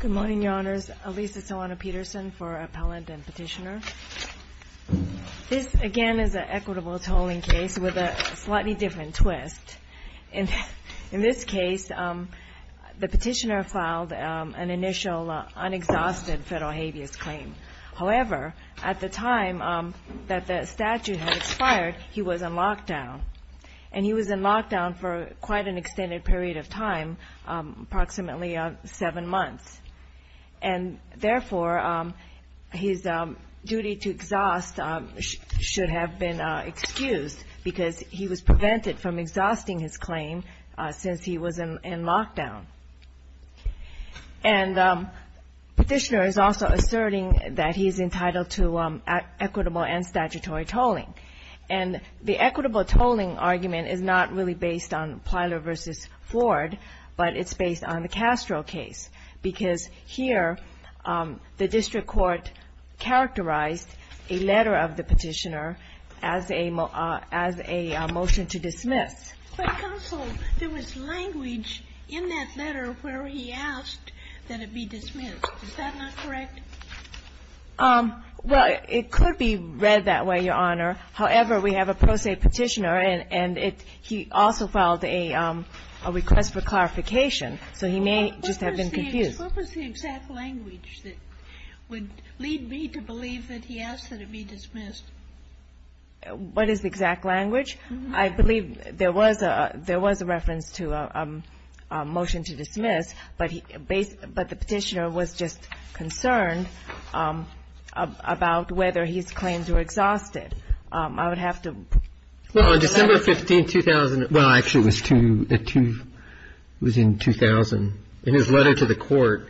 Good morning, Your Honors. Alisa Solano-Peterson for Appellant and Petitioner. This, again, is an equitable tolling case with a slightly different twist. In this case, the petitioner filed an initial, unexhausted federal habeas claim. However, at the time that the statute had expired, he was in lockdown. And he was in lockdown for quite an extended period of time, approximately seven months. And therefore, his duty to exhaust should have been excused because he was prevented from exhausting his claim since he was in lockdown. And the petitioner is also asserting that he is entitled to equitable and statutory tolling. And the equitable tolling argument is not really based on Plyler v. Ford, but it's based on the Castro case. Because here, the district court characterized a letter of the petitioner as a motion to dismiss. But, counsel, there was language in that letter where he asked that it be dismissed. Is that not correct? Well, it could be read that way, Your Honor. However, we have a pro se petitioner, and he also filed a request for clarification. So he may just have been confused. What was the exact language that would lead me to believe that he asked that it be dismissed? What is the exact language? I believe there was a reference to a motion to dismiss, but the petitioner was just concerned about whether his claims were exhausted. I would have to go back to that. Well, on December 15, 2000 — well, actually, it was in 2000. In his letter to the Court,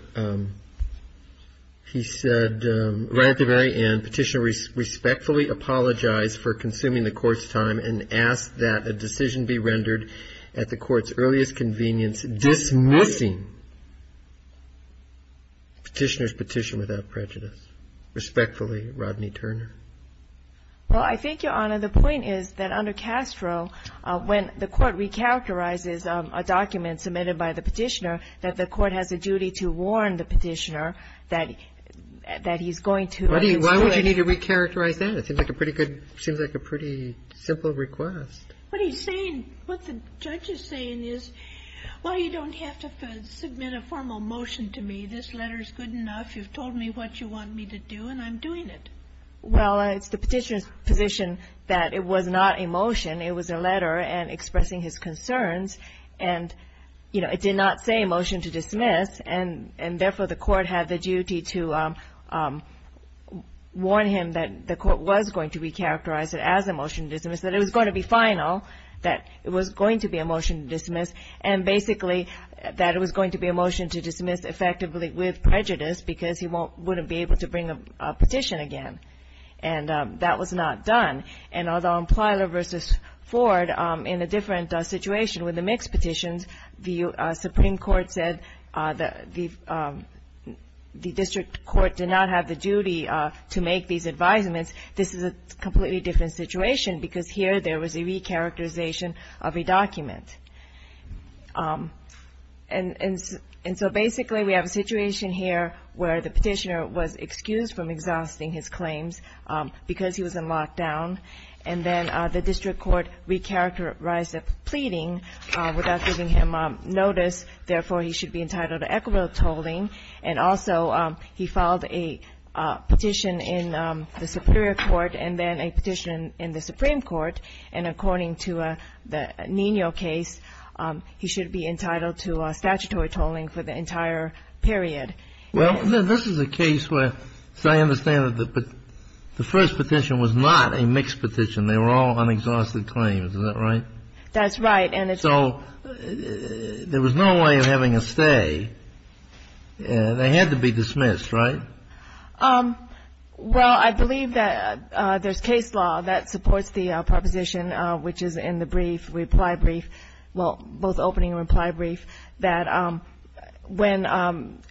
he said, right at the very end, Petitioner respectfully apologized for consuming the Court's time and asked that a decision be rendered at the Court's earliest convenience dismissing Petitioner's petition without prejudice. Respectfully, Rodney Turner. Well, I think, Your Honor, the point is that under Castro, when the Court recharacterizes a document submitted by the petitioner, that the Court has a duty to warn the petitioner that he's going to — Why would you need to recharacterize that? It seems like a pretty good — seems like a pretty simple request. What he's saying — what the judge is saying is, well, you don't have to submit a formal motion to me. This letter is good enough. You've told me what you want me to do, and I'm doing it. Well, it's the petitioner's position that it was not a motion. It was a letter expressing his concerns. And, you know, it did not say a motion to dismiss, and therefore the Court had the duty to warn him that the Court was going to recharacterize it as a motion to dismiss, that it was going to be final, that it was going to be a motion to dismiss, and basically that it was going to be a motion to dismiss effectively with prejudice because he wouldn't be able to bring a petition again. And that was not done. And although in Plyler v. Ford, in a different situation with the mixed petitions, the Supreme Court said the district court did not have the duty to make these advisements, this is a completely different situation because here there was a recharacterization of a document. And so basically we have a situation here where the petitioner was excused from exhausting his claims because he was in lockdown. And then the district court recharacterized the pleading without giving him notice. Therefore, he should be entitled to equitable tolling. And also he filed a petition in the Superior Court and then a petition in the Supreme Court. And according to the Nino case, he should be entitled to statutory tolling for the entire period. Well, this is a case where, as I understand it, the first petition was not a mixed petition. They were all unexhausted claims. Is that right? That's right. So there was no way of having a stay. They had to be dismissed, right? Well, I believe that there's case law that supports the proposition, which is in the brief, reply brief, well, both opening and reply brief, that when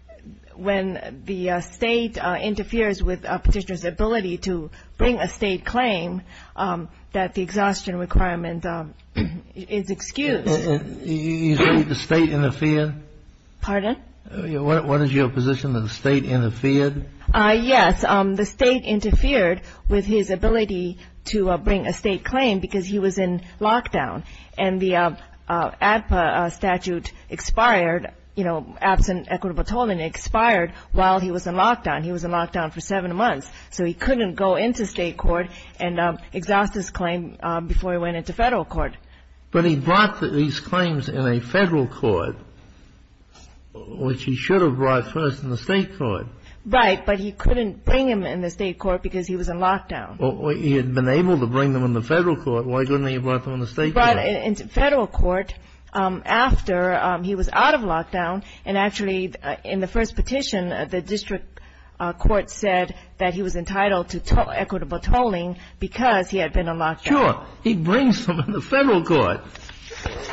the State interferes with a petitioner's ability to bring a State claim, that the exhaustion requirement is excused. You say the State interfered? Pardon? What is your position that the State interfered? Yes. The State interfered with his ability to bring a State claim because he was in lockdown. And the ADPA statute expired, you know, absent equitable tolling expired while he was in lockdown. He was in lockdown for seven months. So he couldn't go into State court and exhaust his claim before he went into Federal court. But he brought these claims in a Federal court, which he should have brought first in the State court. Right. But he couldn't bring them in the State court because he was in lockdown. He had been able to bring them in the Federal court. He brought it into Federal court after he was out of lockdown. And actually, in the first petition, the district court said that he was entitled to equitable tolling because he had been in lockdown. Sure. He brings them in the Federal court.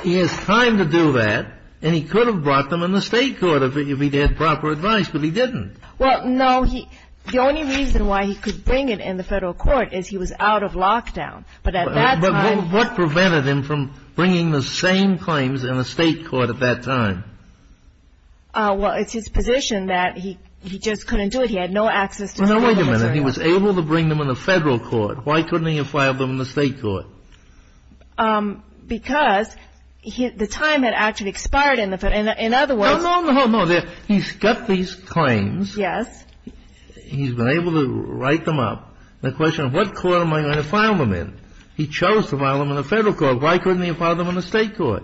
He has time to do that. And he could have brought them in the State court if he had proper advice. But he didn't. Well, no. The only reason why he could bring it in the Federal court is he was out of lockdown. But at that time. But what prevented him from bringing the same claims in the State court at that time? Well, it's his position that he just couldn't do it. He had no access. Well, now, wait a minute. He was able to bring them in the Federal court. Why couldn't he have filed them in the State court? Because the time had actually expired in the Federal. In other words. No, no, no, no. He's got these claims. Yes. He's been able to write them up. The question of what court am I going to file them in? He chose to file them in the Federal court. Why couldn't he have filed them in the State court?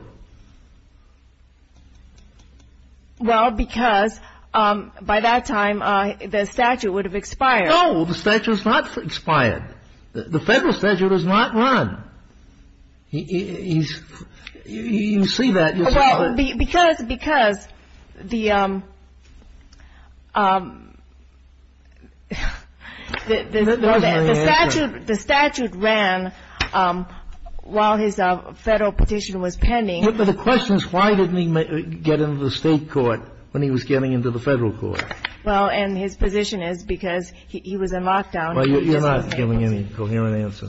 Well, because by that time the statute would have expired. No, the statute has not expired. The Federal statute does not run. You can see that. Because the statute ran while his Federal petition was pending. But the question is why didn't he get into the State court when he was getting into the Federal court? Well, and his position is because he was in lockdown. Well, you're not giving any coherent answer.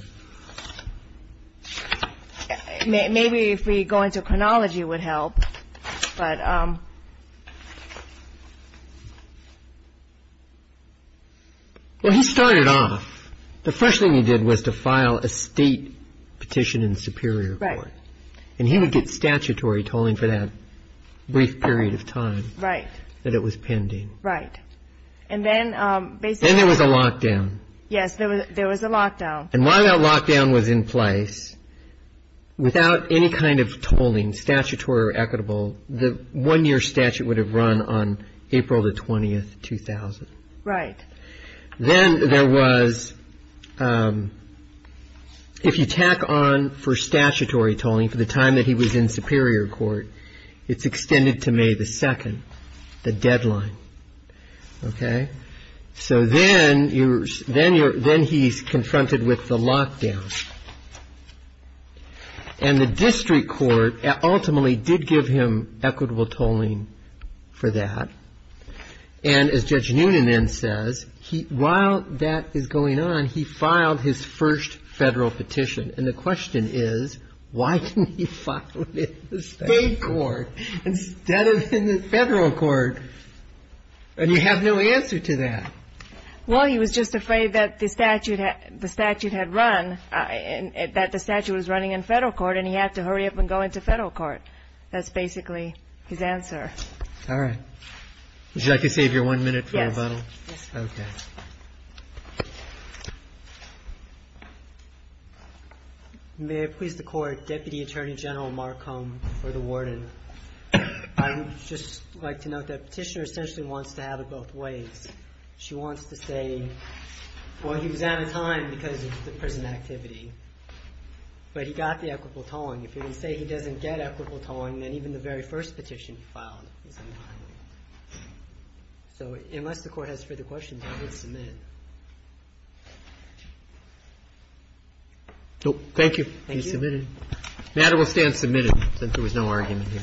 Maybe if we go into chronology it would help. But. Well, he started off. The first thing he did was to file a State petition in the Superior court. Right. And he would get statutory tolling for that brief period of time. Right. That it was pending. Right. And then basically. Then there was a lockdown. Yes, there was a lockdown. And while that lockdown was in place, without any kind of tolling, statutory or equitable, the one-year statute would have run on April the 20th, 2000. Right. Then there was. If you tack on for statutory tolling for the time that he was in Superior court, it's extended to May the 2nd, the deadline. Okay. So then he's confronted with the lockdown. And the district court ultimately did give him equitable tolling for that. And as Judge Noonan then says, while that is going on, he filed his first Federal petition. And the question is, why didn't he file it in the State court instead of in the Federal court? And you have no answer to that. Well, he was just afraid that the statute had run, that the statute was running in Federal court, and he had to hurry up and go into Federal court. That's basically his answer. All right. Would you like to save your one minute for rebuttal? Yes. Okay. May it please the Court, Deputy Attorney General Marcom for the warden. I would just like to note that Petitioner essentially wants to have it both ways. She wants to say, well, he was out of time because of the prison activity, but he got the equitable tolling. If you're going to say he doesn't get equitable tolling, then even the very first petition he filed is out of time. So unless the Court has further questions, I would submit. Thank you. Thank you. He's submitted. The matter will stand submitted since there was no argument here.